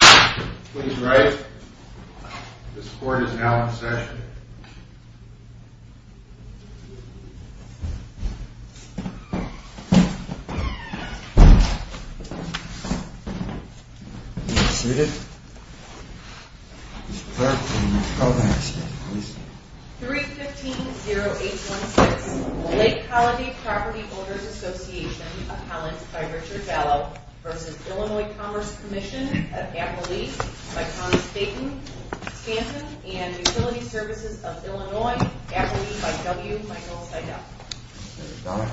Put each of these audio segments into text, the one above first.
Please rise. This court is now in session. You may be seated. Mr. Clark, please call the next step, please. 3-15-0-8-1-6 Lake Holiday Property Owners Association Appellant by Richard Gallo v. Illinois Commerce Comm'n of Appalachia by Thomas Bacon, Wisconsin and Utility Services of Illinois, Appalachia by W. Michael Seidel. Mr. Gallo.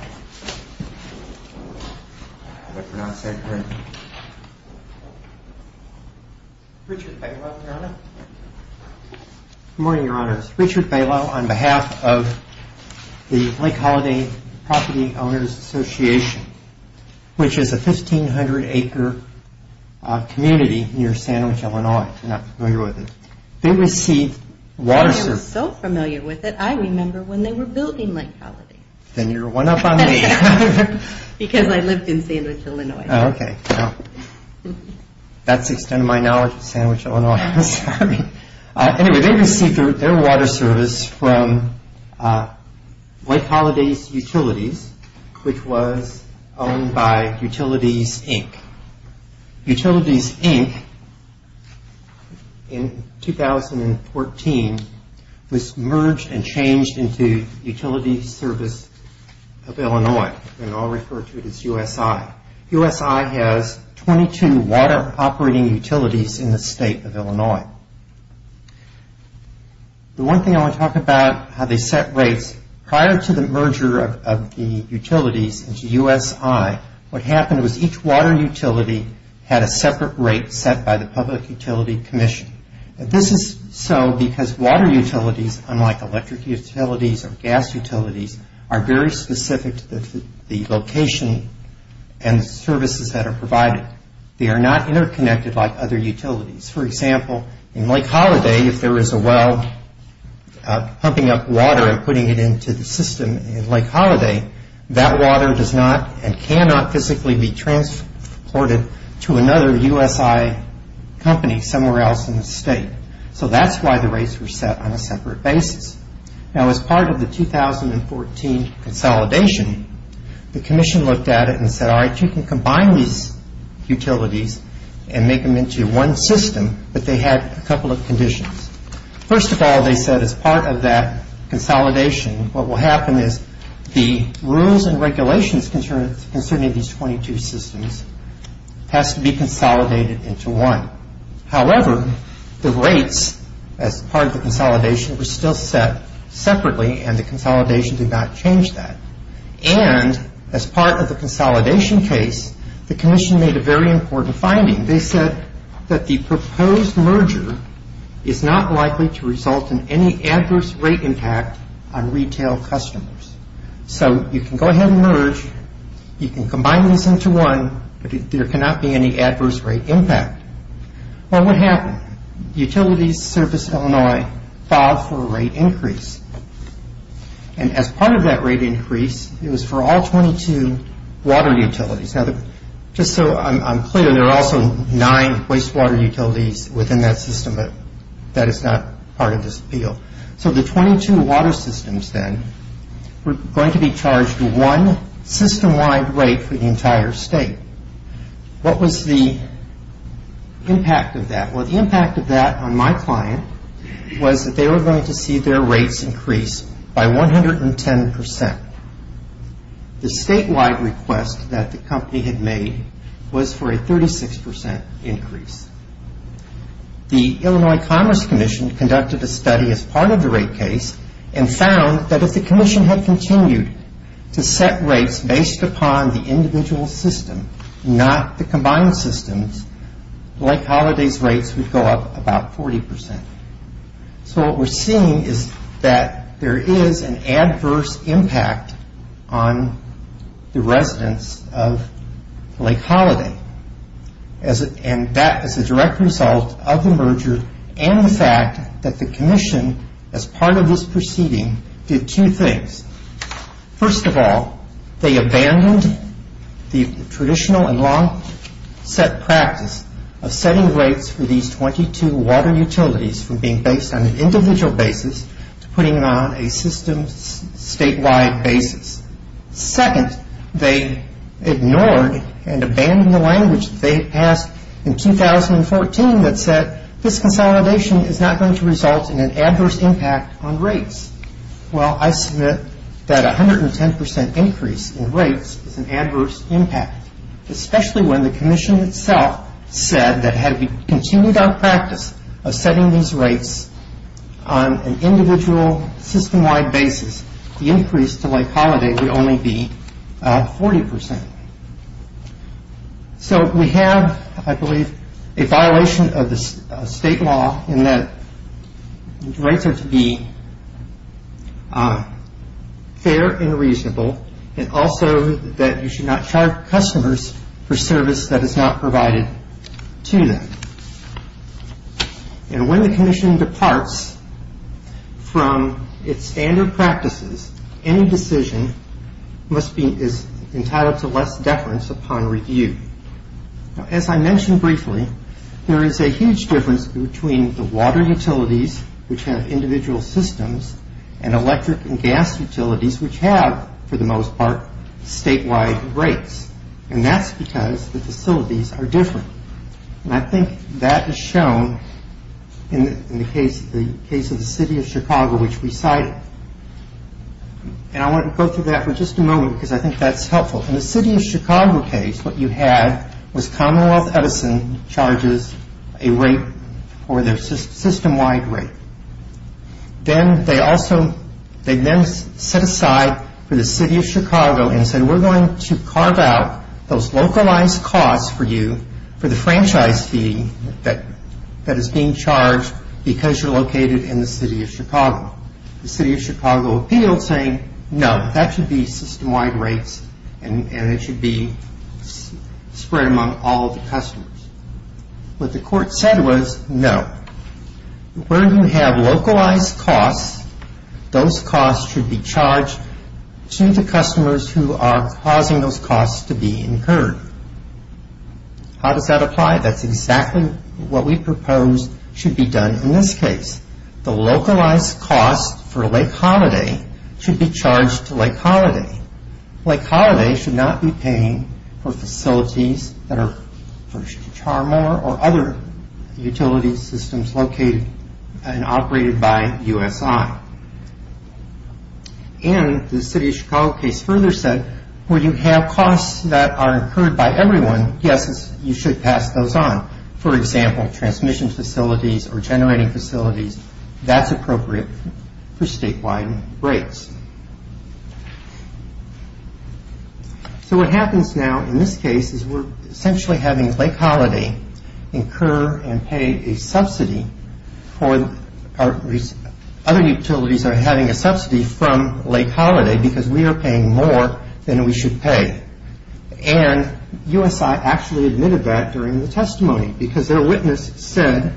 Richard, if I can welcome Your Honor. Good morning, Your Honor. This is Richard Gallo on behalf of the Lake Holiday Property Owners Association, which is a 1,500-acre community near Sandwich, Illinois. If you're not familiar with it, they receive water services... I was so familiar with it, I remember when they were building Lake Holiday. Then you're one up on me. Because I lived in Sandwich, Illinois. Oh, okay. That's the extent of my knowledge of Sandwich, Illinois. Anyway, they received their water service from Lake Holiday Utilities, which was owned by Utilities, Inc. Utilities, Inc., in 2014, was merged and changed into Utilities Service of Illinois, and I'll refer to it as USI. USI has 22 water-operating utilities in the state of Illinois. The one thing I want to talk about, how they set rates. Prior to the merger of the utilities into USI, what happened was each water utility had a separate rate set by the Public Utility Commission. This is so because water utilities, unlike electric utilities or gas utilities, are very specific to the location and services that are provided. They are not interconnected like other utilities. For example, in Lake Holiday, if there is a well pumping up water and putting it into the system in Lake Holiday, that water does not and cannot physically be transported to another USI company somewhere else in the state. So that's why the rates were set on a separate basis. Now, as part of the 2014 consolidation, the Commission looked at it and said, all right, you can combine these utilities and make them into one system, but they had a couple of conditions. First of all, they said as part of that consolidation, what will happen is the rules and regulations concerning these 22 systems has to be consolidated into one. However, the rates as part of the consolidation were still set separately, and the consolidation did not change that. And as part of the consolidation case, the Commission made a very important finding. They said that the proposed merger is not likely to result in any adverse rate impact on retail customers. So you can go ahead and merge. You can combine these into one, but there cannot be any adverse rate impact. Well, what happened? Utilities Service Illinois filed for a rate increase. And as part of that rate increase, it was for all 22 water utilities. Now, just so I'm clear, there are also nine wastewater utilities within that system, but that is not part of this appeal. So the 22 water systems then were going to be charged one system-wide rate for the entire state. What was the impact of that? Well, the impact of that on my client was that they were going to see their rates increase by 110%. The statewide request that the company had made was for a 36% increase. The Illinois Commerce Commission conducted a study as part of the rate case and found that if the Commission had continued to set rates based upon the individual system, not the combined systems, Lake Holiday's rates would go up about 40%. So what we're seeing is that there is an adverse impact on the residents of Lake Holiday. And that is a direct result of the merger and the fact that the Commission, as part of this proceeding, did two things. First of all, they abandoned the traditional and long-set practice of setting rates for these 22 water utilities from being based on an individual basis to putting them on a system-statewide basis. Second, they ignored and abandoned the language that they had passed in 2014 that said this consolidation is not going to result in an adverse impact on rates. Well, I submit that a 110% increase in rates is an adverse impact, especially when the Commission itself said that had we continued our practice of setting these rates on an individual system-wide basis, the increase to Lake Holiday would only be 40%. So we have, I believe, a violation of the state law in that rates are to be fair and reasonable and also that you should not charge customers for service that is not provided to them. And when the Commission departs from its standard practices, any decision is entitled to less deference upon review. As I mentioned briefly, there is a huge difference between the water utilities, which have individual systems, and electric and gas utilities, which have, for the most part, statewide rates. And that's because the facilities are different. And I think that is shown in the case of the City of Chicago, which we cited. And I want to go through that for just a moment because I think that's helpful. In the City of Chicago case, what you had was Commonwealth Edison charges a rate or their system-wide rate. Then they also, they then set aside for the City of Chicago and said, we're going to carve out those localized costs for you for the franchise fee that is being charged because you're located in the City of Chicago. The City of Chicago appealed saying, no, that should be system-wide rates and it should be spread among all of the customers. What the court said was, no, where you have localized costs, those costs should be charged to the customers who are causing those costs to be incurred. How does that apply? That's exactly what we propose should be done in this case. The localized costs for Lake Holiday should be charged to Lake Holiday. Lake Holiday should not be paying for facilities that are furnished to Char Moore or other utility systems located and operated by USI. And the City of Chicago case further said, where you have costs that are incurred by everyone, yes, you should pass those on. For example, transmission facilities or generating facilities, that's appropriate for statewide rates. So what happens now in this case is we're essentially having Lake Holiday incur and pay a subsidy for other utilities that are having a subsidy from Lake Holiday because we are paying more than we should pay. And USI actually admitted that during the testimony because their witness said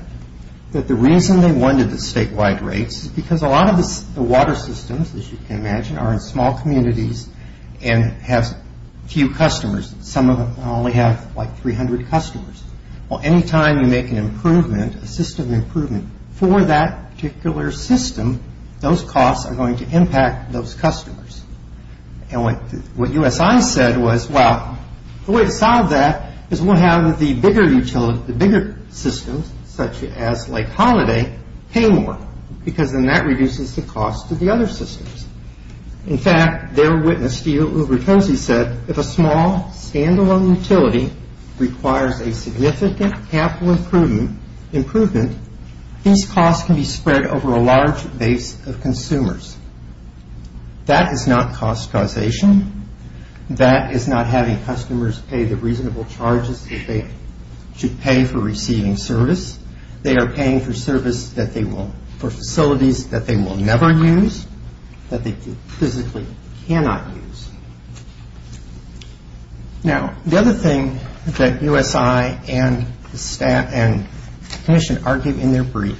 that the reason they wanted the statewide rates is because a lot of the water systems, as you can imagine, are in small communities and have few customers. Some of them only have like 300 customers. Well, any time you make an improvement, a system improvement for that particular system, those costs are going to impact those customers. And what USI said was, well, the way to solve that is we'll have the bigger utility, the bigger systems, such as Lake Holiday, pay more because then that reduces the cost of the other systems. In fact, their witness, Steve Ubertuzzi, said, if a small standalone utility requires a significant capital improvement, these costs can be spread over a large base of consumers. That is not cost causation. That is not having customers pay the reasonable charges that they should pay for receiving service. They are paying for service that they will, for facilities that they will never use, that they physically cannot use. Now, the other thing that USI and the staff and the commission argued in their brief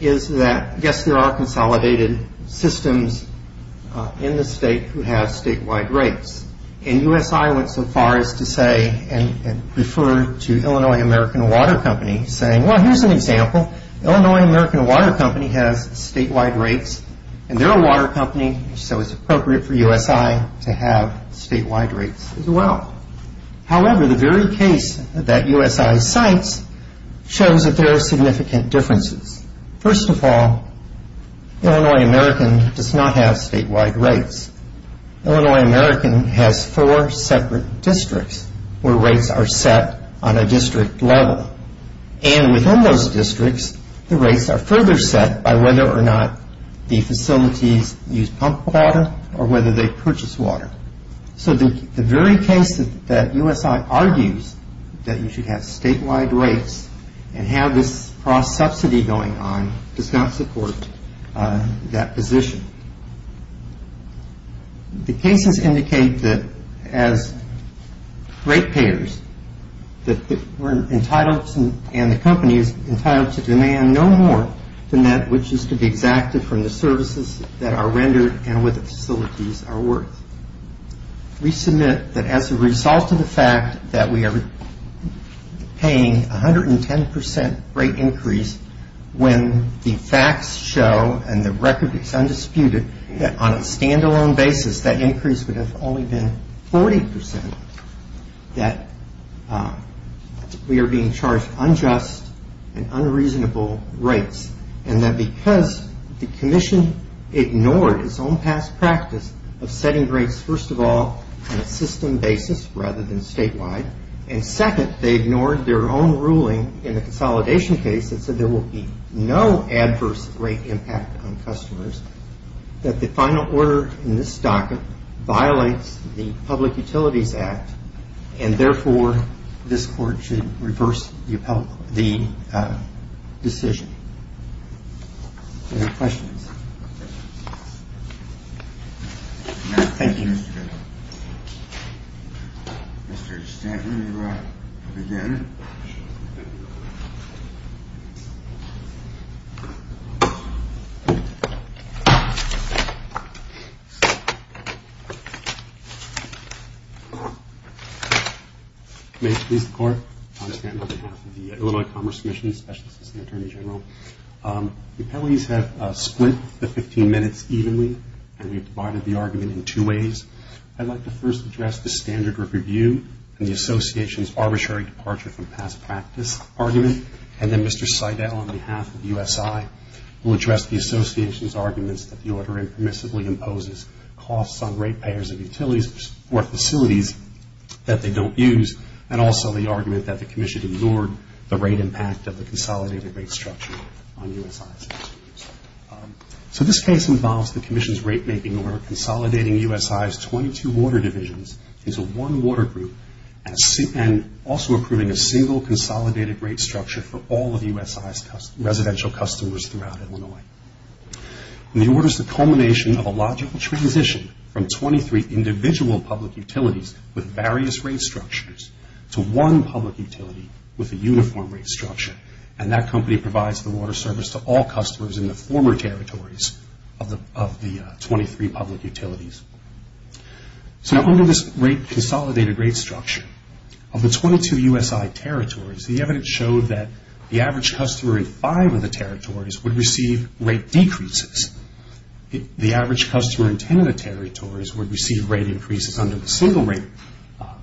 is that, yes, there are consolidated systems in the state who have statewide rates. And USI went so far as to say and refer to Illinois American Water Company, saying, well, here's an example. Illinois American Water Company has statewide rates, and they're a water company, so it's appropriate for USI to have statewide rates as well. However, the very case that USI cites shows that there are significant differences. First of all, Illinois American does not have statewide rates. Illinois American has four separate districts where rates are set on a district level. And within those districts, the rates are further set by whether or not the facilities use pump water or whether they purchase water. So the very case that USI argues that you should have statewide rates and have this cross-subsidy going on does not support that position. The cases indicate that as rate payers that we're entitled to and the company is entitled to demand no more than that which is to be exacted from the services that are rendered and what the facilities are worth. We submit that as a result of the fact that we are paying 110% rate increase when the facts show and the record is undisputed that on a stand-alone basis, that increase would have only been 40% that we are being charged unjust and unreasonable rates. And that because the commission ignored its own past practice of setting rates, first of all, on a system basis rather than statewide, and second, they ignored their own ruling in the consolidation case that said there will be no adverse rate impact on customers, that the final order in this docket violates the Public Utilities Act and therefore this court should reverse the decision. Any questions? Thank you. May it please the Court. Tom Stanton on behalf of the Illinois Commerce Commission, Special Assistant Attorney General. The penalties have split the 15 minutes evenly and we've divided the argument in two ways. I'd like to first address the standard group review and the association's arbitrary departure from past practice argument and then Mr. Seidel on behalf of USI will address the association's arguments that the order impermissibly imposes costs on rate payers of utilities or facilities that they don't use and also the argument that the commission ignored the rate impact of the consolidated rate structure on USI's facilities. So this case involves the commission's rate making order consolidating USI's 22 water divisions into one water group and also approving a single consolidated rate structure for all of USI's residential customers throughout Illinois. The order is the culmination of a logical transition from 23 individual public utilities with various rate structures to one public utility with a uniform rate structure and that company provides the water service to all customers in the former territories of the 23 public utilities. So under this rate consolidated rate structure of the 22 USI territories the evidence showed that the average customer in five of the territories would receive rate decreases. The average customer in ten of the territories would receive rate increases under the single rate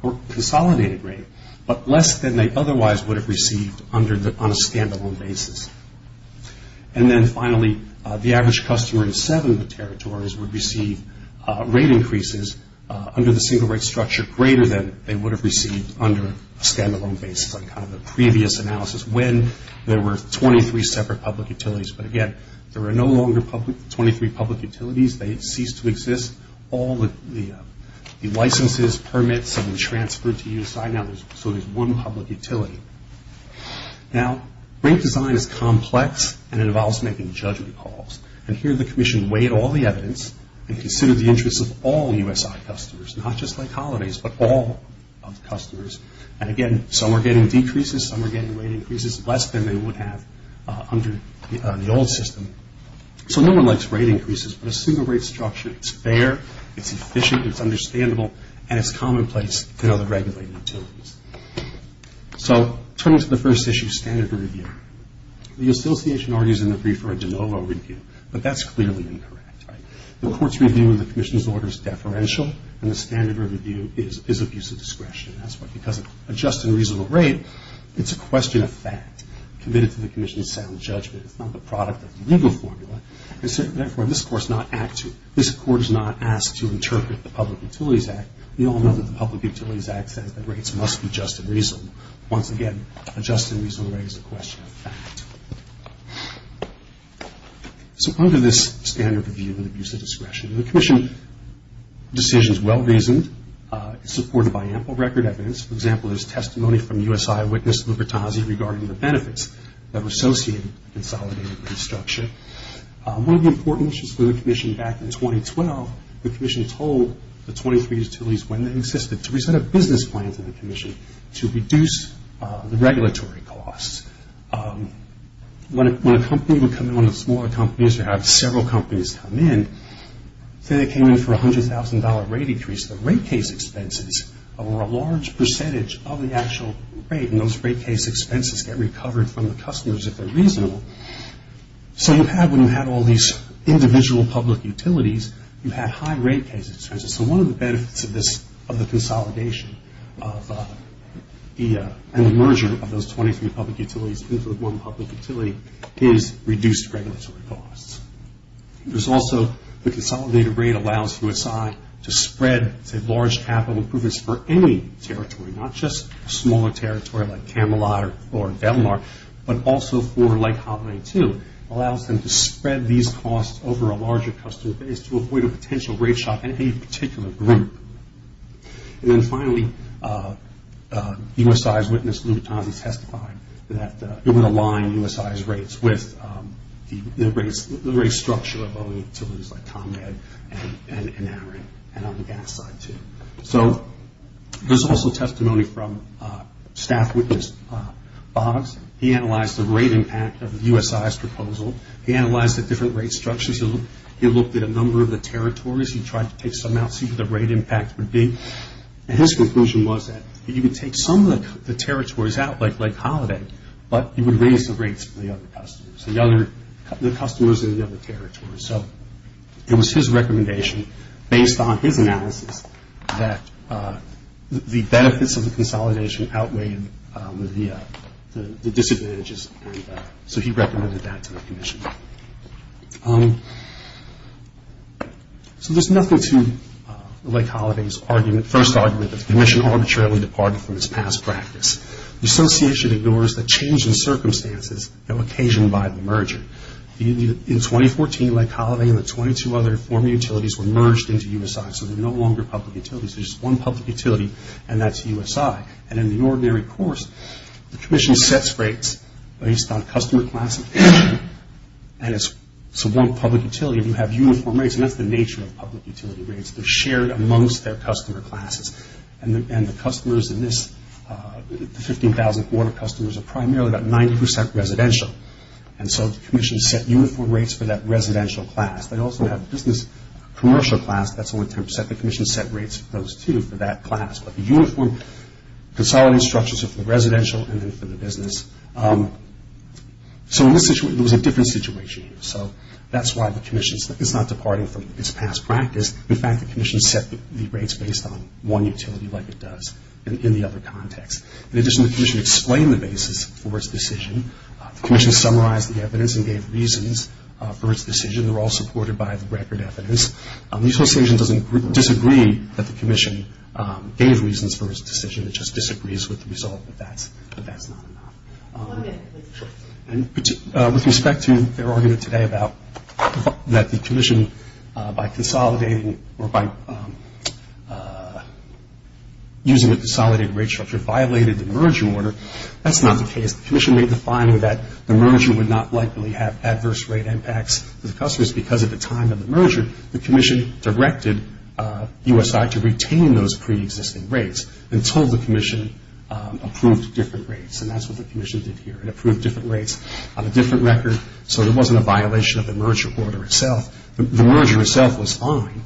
or consolidated rate but less than they otherwise would have received on a stand-alone basis. And then finally the average customer in seven of the territories would receive rate increases under the single rate structure greater than they would have received under a stand-alone basis like kind of a previous analysis when there were 23 separate public utilities but again there are no longer 23 public utilities. They ceased to exist. All the licenses, permits have been transferred to USI so there's one public utility. Now rate design is complex and it involves making judgment calls and here the commission weighed all the evidence and considered the interests of all USI customers not just like holidays but all of the customers and again some are getting decreases, some are getting rate increases less than they would have under the old system. So no one likes rate increases but a single rate structure, it's fair, it's efficient, it's understandable and it's commonplace to other regulated utilities. So turning to the first issue, standard review. The association argues in the brief for a de novo review but that's clearly incorrect, right? The court's review of the commission's order is deferential and the standard review is abuse of discretion. That's because a just and reasonable rate, it's a question of fact committed to the commission's sound judgment. It's not the product of the legal formula and so therefore this court is not asked to interpret the Public Utilities Act. We all know that the Public Utilities Act says that rates must be just and reasonable. Once again, a just and reasonable rate is a question of fact. So under this standard review and abuse of discretion, the commission's decision is well-reasoned, supported by ample record evidence. For example, there's testimony from U.S. eyewitness Lubertazzi regarding the benefits that are associated with consolidated rate structure. One of the important issues for the commission back in 2012, the commission told the 23 utilities when they existed to present a business plan to the commission to reduce the regulatory costs. When a company would come in, one of the smaller companies, or have several companies come in, say they came in for a $100,000 rate increase, the rate case expenses were a large percentage of the actual rate and those rate case expenses get recovered from the customers if they're reasonable. So you have, when you have all these individual public utilities, you have high rate cases. So one of the benefits of the consolidation and the merger of those 23 public utilities into one public utility is reduced regulatory costs. There's also the consolidated rate allows U.S. eye to spread to large capital improvements for any territory, not just smaller territory like Camelot or Delmar, but also for like Holloway too, allows them to spread these costs over a larger customer base to avoid a potential rate shock in any particular group. And then finally, U.S. eyewitness Lubertazzi testified that it would align U.S. eye's rates with the rate structure of other utilities like ComEd and Amarin and on the gas side too. So there's also testimony from staff witness Boggs. He analyzed the rate impact of U.S. eye's proposal. He analyzed the different rate structures. He looked at a number of the territories. He tried to take some out, see what the rate impact would be. And his conclusion was that you could take some of the territories out like Holloway, but you would raise the rates for the other customers, the customers in the other territories. So it was his recommendation based on his analysis that the benefits of the consolidation outweighed the disadvantages, and so he recommended that to the commission. So there's nothing to Lake Holloway's first argument that the commission arbitrarily departed from its past practice. The association ignores the change in circumstances that were occasioned by the merger. In 2014, Lake Holloway and the 22 other former utilities were merged into U.S. eye, so they're no longer public utilities. There's just one public utility, and that's U.S. eye. And in the ordinary course, the commission sets rates based on customer class, and it's one public utility, and you have uniform rates, and that's the nature of public utility rates. They're shared amongst their customer classes, and the customers in this 15,000 quarter customers are primarily about 90% residential, and so the commission set uniform rates for that residential class. They also have business commercial class. That's only 10%. The commission set rates for those two for that class. But the uniform consolidating structures are for residential and then for the business. So in this situation, it was a different situation. So that's why the commission is not departing from its past practice. In fact, the commission set the rates based on one utility like it does in the other context. In addition, the commission explained the basis for its decision. The commission summarized the evidence and gave reasons for its decision. They were all supported by the record evidence. The association doesn't disagree that the commission gave reasons for its decision. It just disagrees with the result, but that's not enough. With respect to their argument today about that the commission, by consolidating or by using a consolidated rate structure, violated the merger order, that's not the case. The commission made the finding that the merger would not likely have adverse rate impacts for the customers because at the time of the merger, the commission directed USI to retain those preexisting rates until the commission approved different rates. And that's what the commission did here. It approved different rates on a different record, so there wasn't a violation of the merger order itself. The merger itself was fine,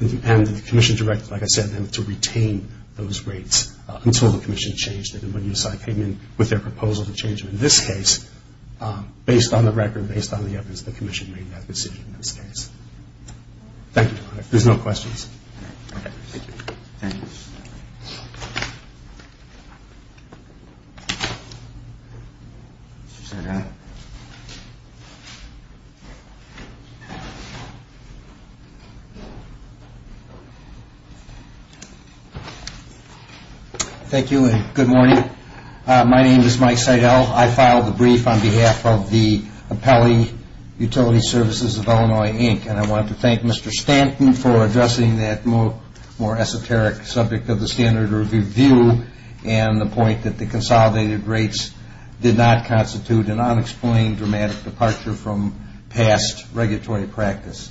and the commission directed, like I said, to retain those rates until the commission changed it. And when USI came in with their proposal to change it in this case, based on the record, based on the evidence, the commission made that decision in this case. Thank you. If there's no questions. Thank you, and good morning. My name is Mike Seidel. I filed the brief on behalf of the Appellee Utility Services of Illinois, Inc., and I want to thank Mr. Stanton for addressing that more esoteric subject of the standard review and the point that the consolidated rates did not constitute an unexplained dramatic departure from past regulatory practice.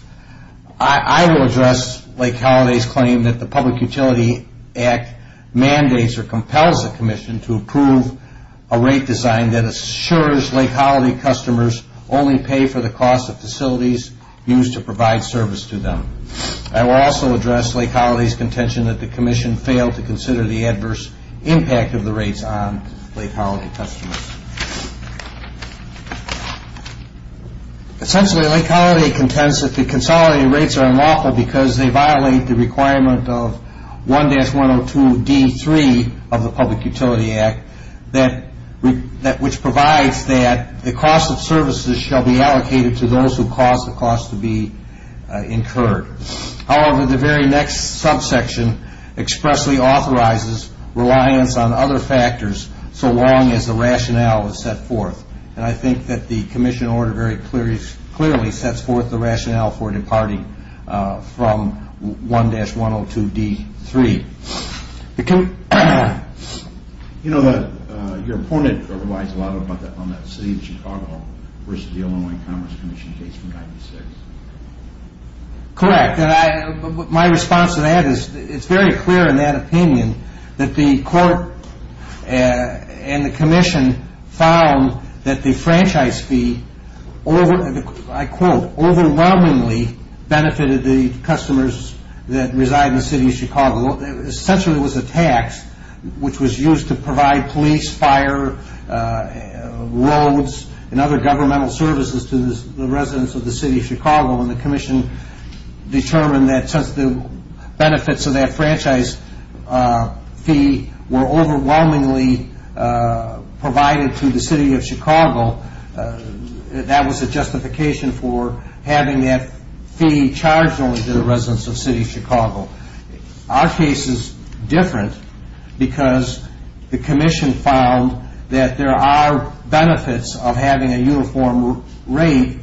I will address Lake Halliday's claim that the Public Utility Act mandates or compels the commission to approve a rate design that assures Lake Halliday customers only pay for the cost of facilities used to provide service to them. I will also address Lake Halliday's contention that the commission failed to consider the adverse impact of the rates on Lake Halliday customers. Essentially, Lake Halliday contends that the consolidated rates are unlawful because they violate the requirement of 1-102D3 of the Public Utility Act, which provides that the cost of services shall be allocated to those who cause the cost to be incurred. However, the very next subsection expressly authorizes reliance on other factors so long as the rationale is set forth, and I think that the commission order very clearly sets forth the rationale for departing from 1-102D3. You know, your opponent provides a lot on that city of Chicago versus the Illinois Commerce Commission case from 1996. Correct, and my response to that is it's very clear in that opinion that the court and the commission found that the franchise fee, I quote, overwhelmingly benefited the customers that reside in the city of Chicago. Essentially, it was a tax which was used to provide police, fire, roads, and other governmental services to the residents of the city of Chicago, and the commission determined that since the benefits of that franchise fee were overwhelmingly provided to the city of Chicago, that was a justification for having that fee charged only to the residents of the city of Chicago. Our case is different because the commission found that there are benefits of having a uniform rate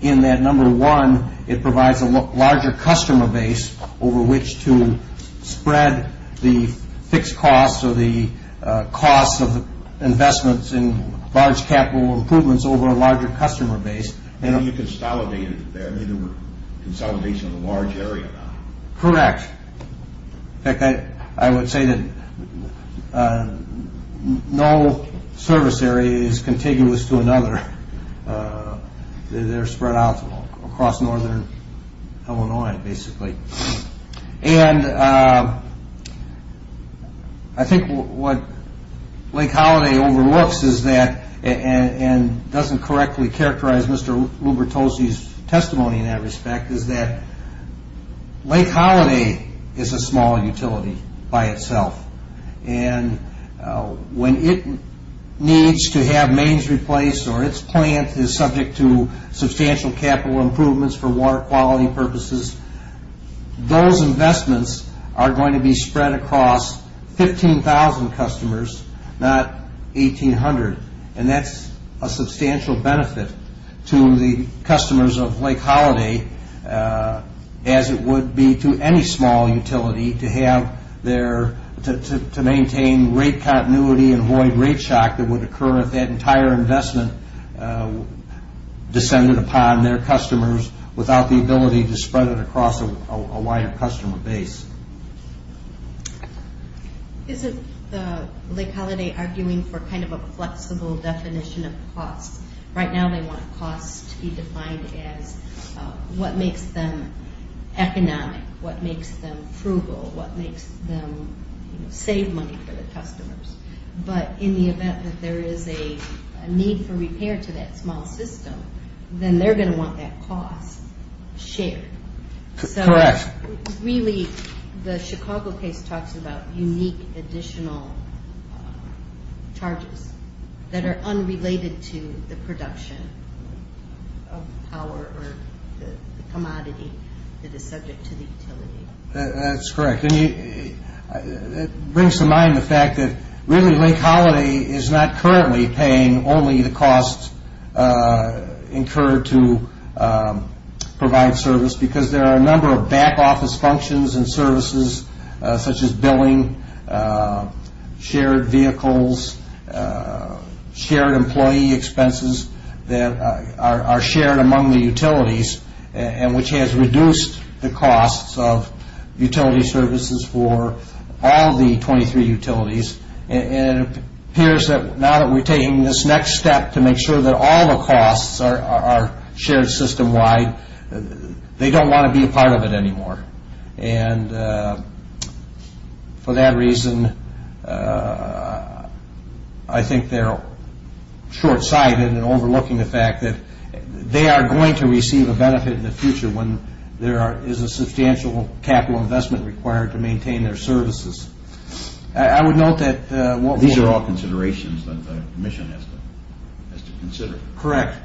in that number one, it provides a larger customer base over which to spread the fixed costs or the cost of investments in large capital improvements over a larger customer base. And you consolidated there. I mean, there were consolidations in a large area. Correct. In fact, I would say that no service area is contiguous to another. They're spread out across northern Illinois, basically. And I think what Lake Holiday overlooks is that, and doesn't correctly characterize Mr. Lubertosi's testimony in that respect, is that Lake Holiday is a small utility by itself. And when it needs to have mains replaced or its plant is subject to substantial capital improvements for water quality purposes, those investments are going to be spread across 15,000 customers, not 1,800, and that's a substantial benefit to the customers of Lake Holiday as it would be to any small utility to maintain rate continuity and avoid rate shock that would occur if that entire investment descended upon their customers without the ability to spread it across a wider customer base. Isn't Lake Holiday arguing for kind of a flexible definition of costs? Right now they want costs to be defined as what makes them economic, what makes them frugal, what makes them save money for the customers. But in the event that there is a need for repair to that small system, then they're going to want that cost shared. Correct. So really, the Chicago case talks about unique additional charges that are unrelated to the production of power or the commodity that is subject to the utility. That's correct. It brings to mind the fact that really Lake Holiday is not currently paying only the costs incurred to provide service because there are a number of back office functions and services such as billing, shared vehicles, shared employee expenses that are shared among the utilities and which has reduced the costs of utility services for all the 23 utilities. It appears that now that we're taking this next step to make sure that all the costs are shared system-wide, they don't want to be a part of it anymore. Correct. And for that reason, I think they're short-sighted in overlooking the fact that they are going to receive a benefit in the future when there is a substantial capital investment required to maintain their services. I would note that... These are all considerations that the commission has to consider. Correct.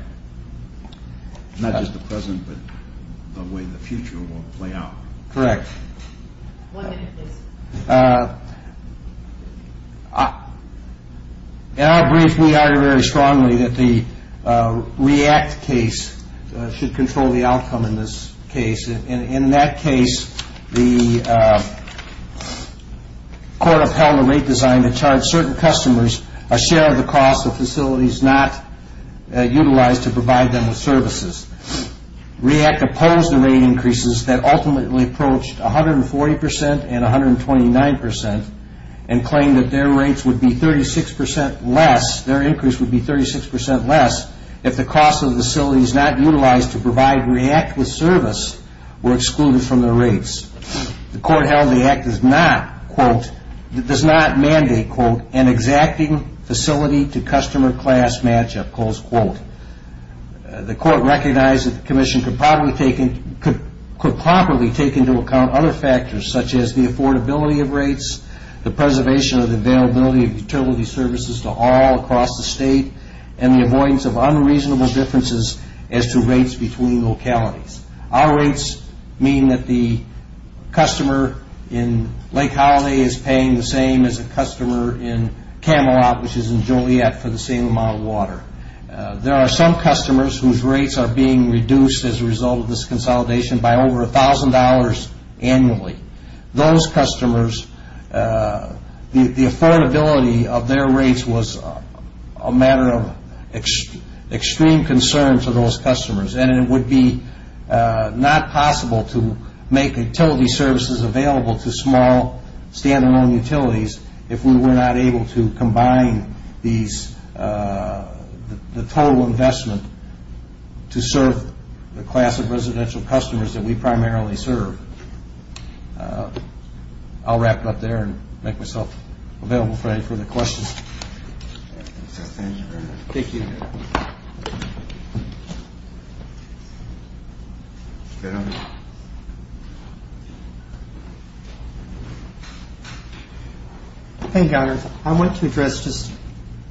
Not just the present, but the way the future will play out. Correct. One minute, please. In our brief, we argue very strongly that the REACT case should control the outcome in this case. In that case, the court upheld the rate design that charged certain customers a share of the cost of facilities not utilized to provide them with services. REACT opposed the rate increases that ultimately approached 140% and 129% and claimed that their rates would be 36% less, their increase would be 36% less if the cost of the facilities not utilized to provide REACT with service were excluded from their rates. The court held the act does not mandate an exacting facility-to-customer class matchup. The court recognized that the commission could properly take into account other factors such as the affordability of rates, the preservation of the availability of utility services to all across the state, and the avoidance of unreasonable differences as to rates between localities. Our rates mean that the customer in Lake Holiday is paying the same as a customer in Camelot, which is in Juliet, for the same amount of water. There are some customers whose rates are being reduced as a result of this consolidation by over $1,000 annually. Those customers, the affordability of their rates was a matter of extreme concern to those customers, and it would be not possible to make utility services available to small, stand-alone utilities if we were not able to combine the total investment to serve the class of residential customers that we primarily serve. I'll wrap up there and make myself available for any further questions. Thank you. I want to address just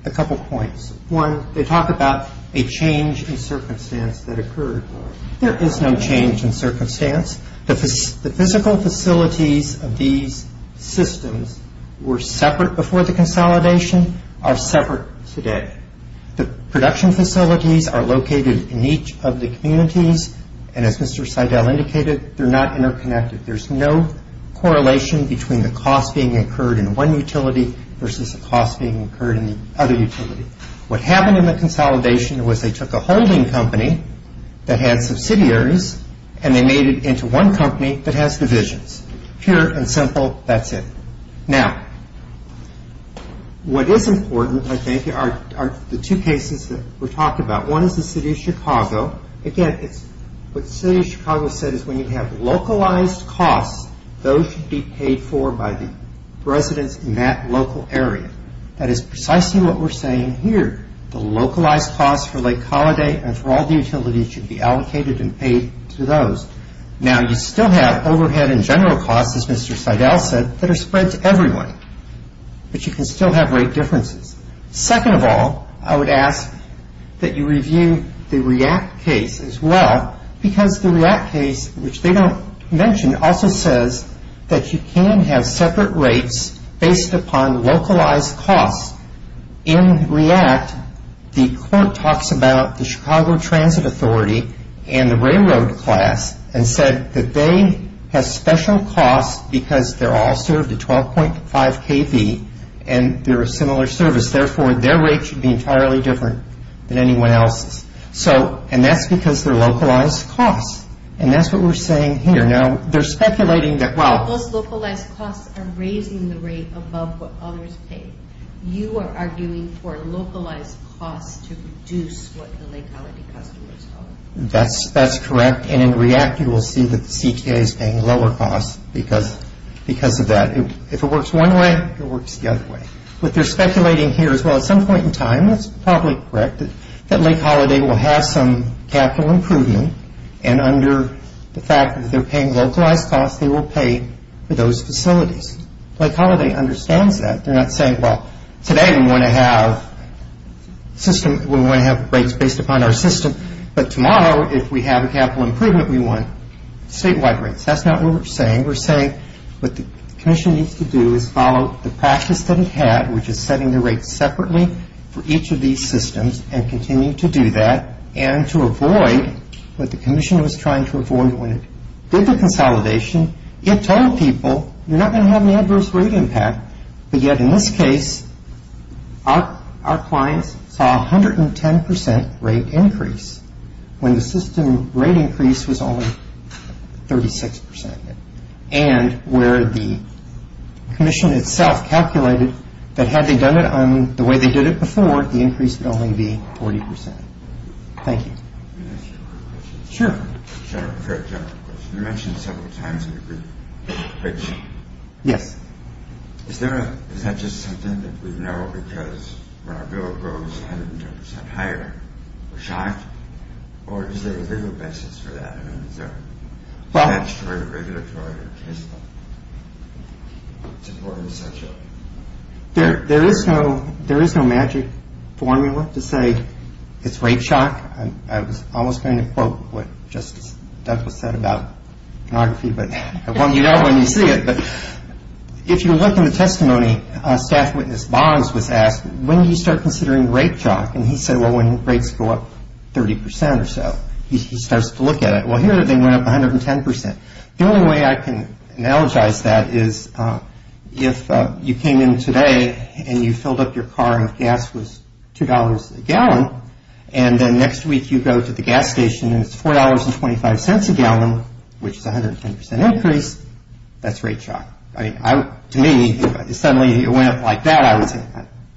a couple points. One, they talk about a change in circumstance that occurred. There is no change in circumstance. The physical facilities of these systems were separate before the consolidation, are separate today. The production facilities are located in each of the communities, and as Mr. Seidel indicated, they're not interconnected. There's no correlation between the cost being incurred in one utility versus the cost being incurred in the other utility. What happened in the consolidation was they took a holding company that had subsidiaries and they made it into one company that has divisions. Pure and simple, that's it. Now, what is important, I think, are the two cases that we're talking about. One is the city of Chicago. Again, what the city of Chicago said is when you have localized costs, those should be paid for by the residents in that local area. That is precisely what we're saying here. The localized costs for Lake Holiday and for all the utilities should be allocated and paid to those. Now, you still have overhead and general costs, as Mr. Seidel said, that are spread to everyone, but you can still have rate differences. Second of all, I would ask that you review the REACT case as well, because the REACT case, which they don't mention, also says that you can have separate rates based upon localized costs. In REACT, the court talks about the Chicago Transit Authority and the railroad class and said that they have special costs because they're all served at 12.5 kV and they're a similar service. Therefore, their rate should be entirely different than anyone else's. And that's because they're localized costs, and that's what we're saying here. Now, they're speculating that, well... Those localized costs are raising the rate above what others pay. You are arguing for localized costs to reduce what the Lake Holiday customers owe. That's correct, and in REACT, you will see that the CTA is paying lower costs because of that. If it works one way, it works the other way. What they're speculating here is, well, at some point in time, that's probably correct, that Lake Holiday will have some capital improvement, and under the fact that they're paying localized costs, they will pay for those facilities. Lake Holiday understands that. They're not saying, well, today we want to have rates based upon our system, but tomorrow, if we have a capital improvement, we want statewide rates. That's not what we're saying. We're saying what the commission needs to do is follow the practice that it had, which is setting the rates separately for each of these systems and continue to do that and to avoid what the commission was trying to avoid when it did the consolidation. In this particular situation, it told people, you're not going to have any adverse rate impact, but yet in this case, our clients saw 110 percent rate increase when the system rate increase was only 36 percent, and where the commission itself calculated that had they done it the way they did it before, the increase would only be 40 percent. Thank you. Can I ask you a quick question? Sure. A very general question. You mentioned several times in the briefing. Yes. Is that just something that we know because when our bill goes 110 percent higher, we're shocked, or is there a legal basis for that? I mean, is there statutory, regulatory, or case law supporting such a... There is no magic formula to say it's rate shock. I was almost going to quote what Justice Douglas said about pornography, but I want you to know when you see it. But if you look in the testimony, a staff witness, Bonds, was asked, when do you start considering rate shock? And he said, well, when rates go up 30 percent or so. He starts to look at it. Well, here they went up 110 percent. The only way I can analogize that is if you came in today and you filled up your car and gas was $2 a gallon, and then next week you go to the gas station and it's $4.25 a gallon, which is 110 percent increase, that's rate shock. To me, if suddenly it went up like that, I would say,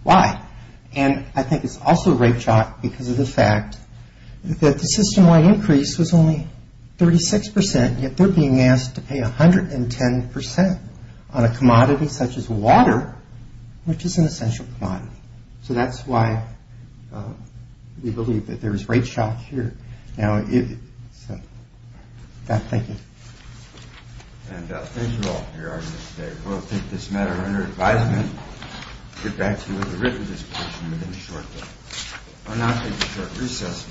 why? And I think it's also rate shock because of the fact that the system-wide increase was only 36 percent, yet they're being asked to pay 110 percent on a commodity such as water, which is an essential commodity. So that's why we believe that there is rate shock here. Now, thank you. And thank you all for your audience today. We'll take this matter under advisement, get back to you with a written discussion within a short time. We'll now take a short recess. Thank you.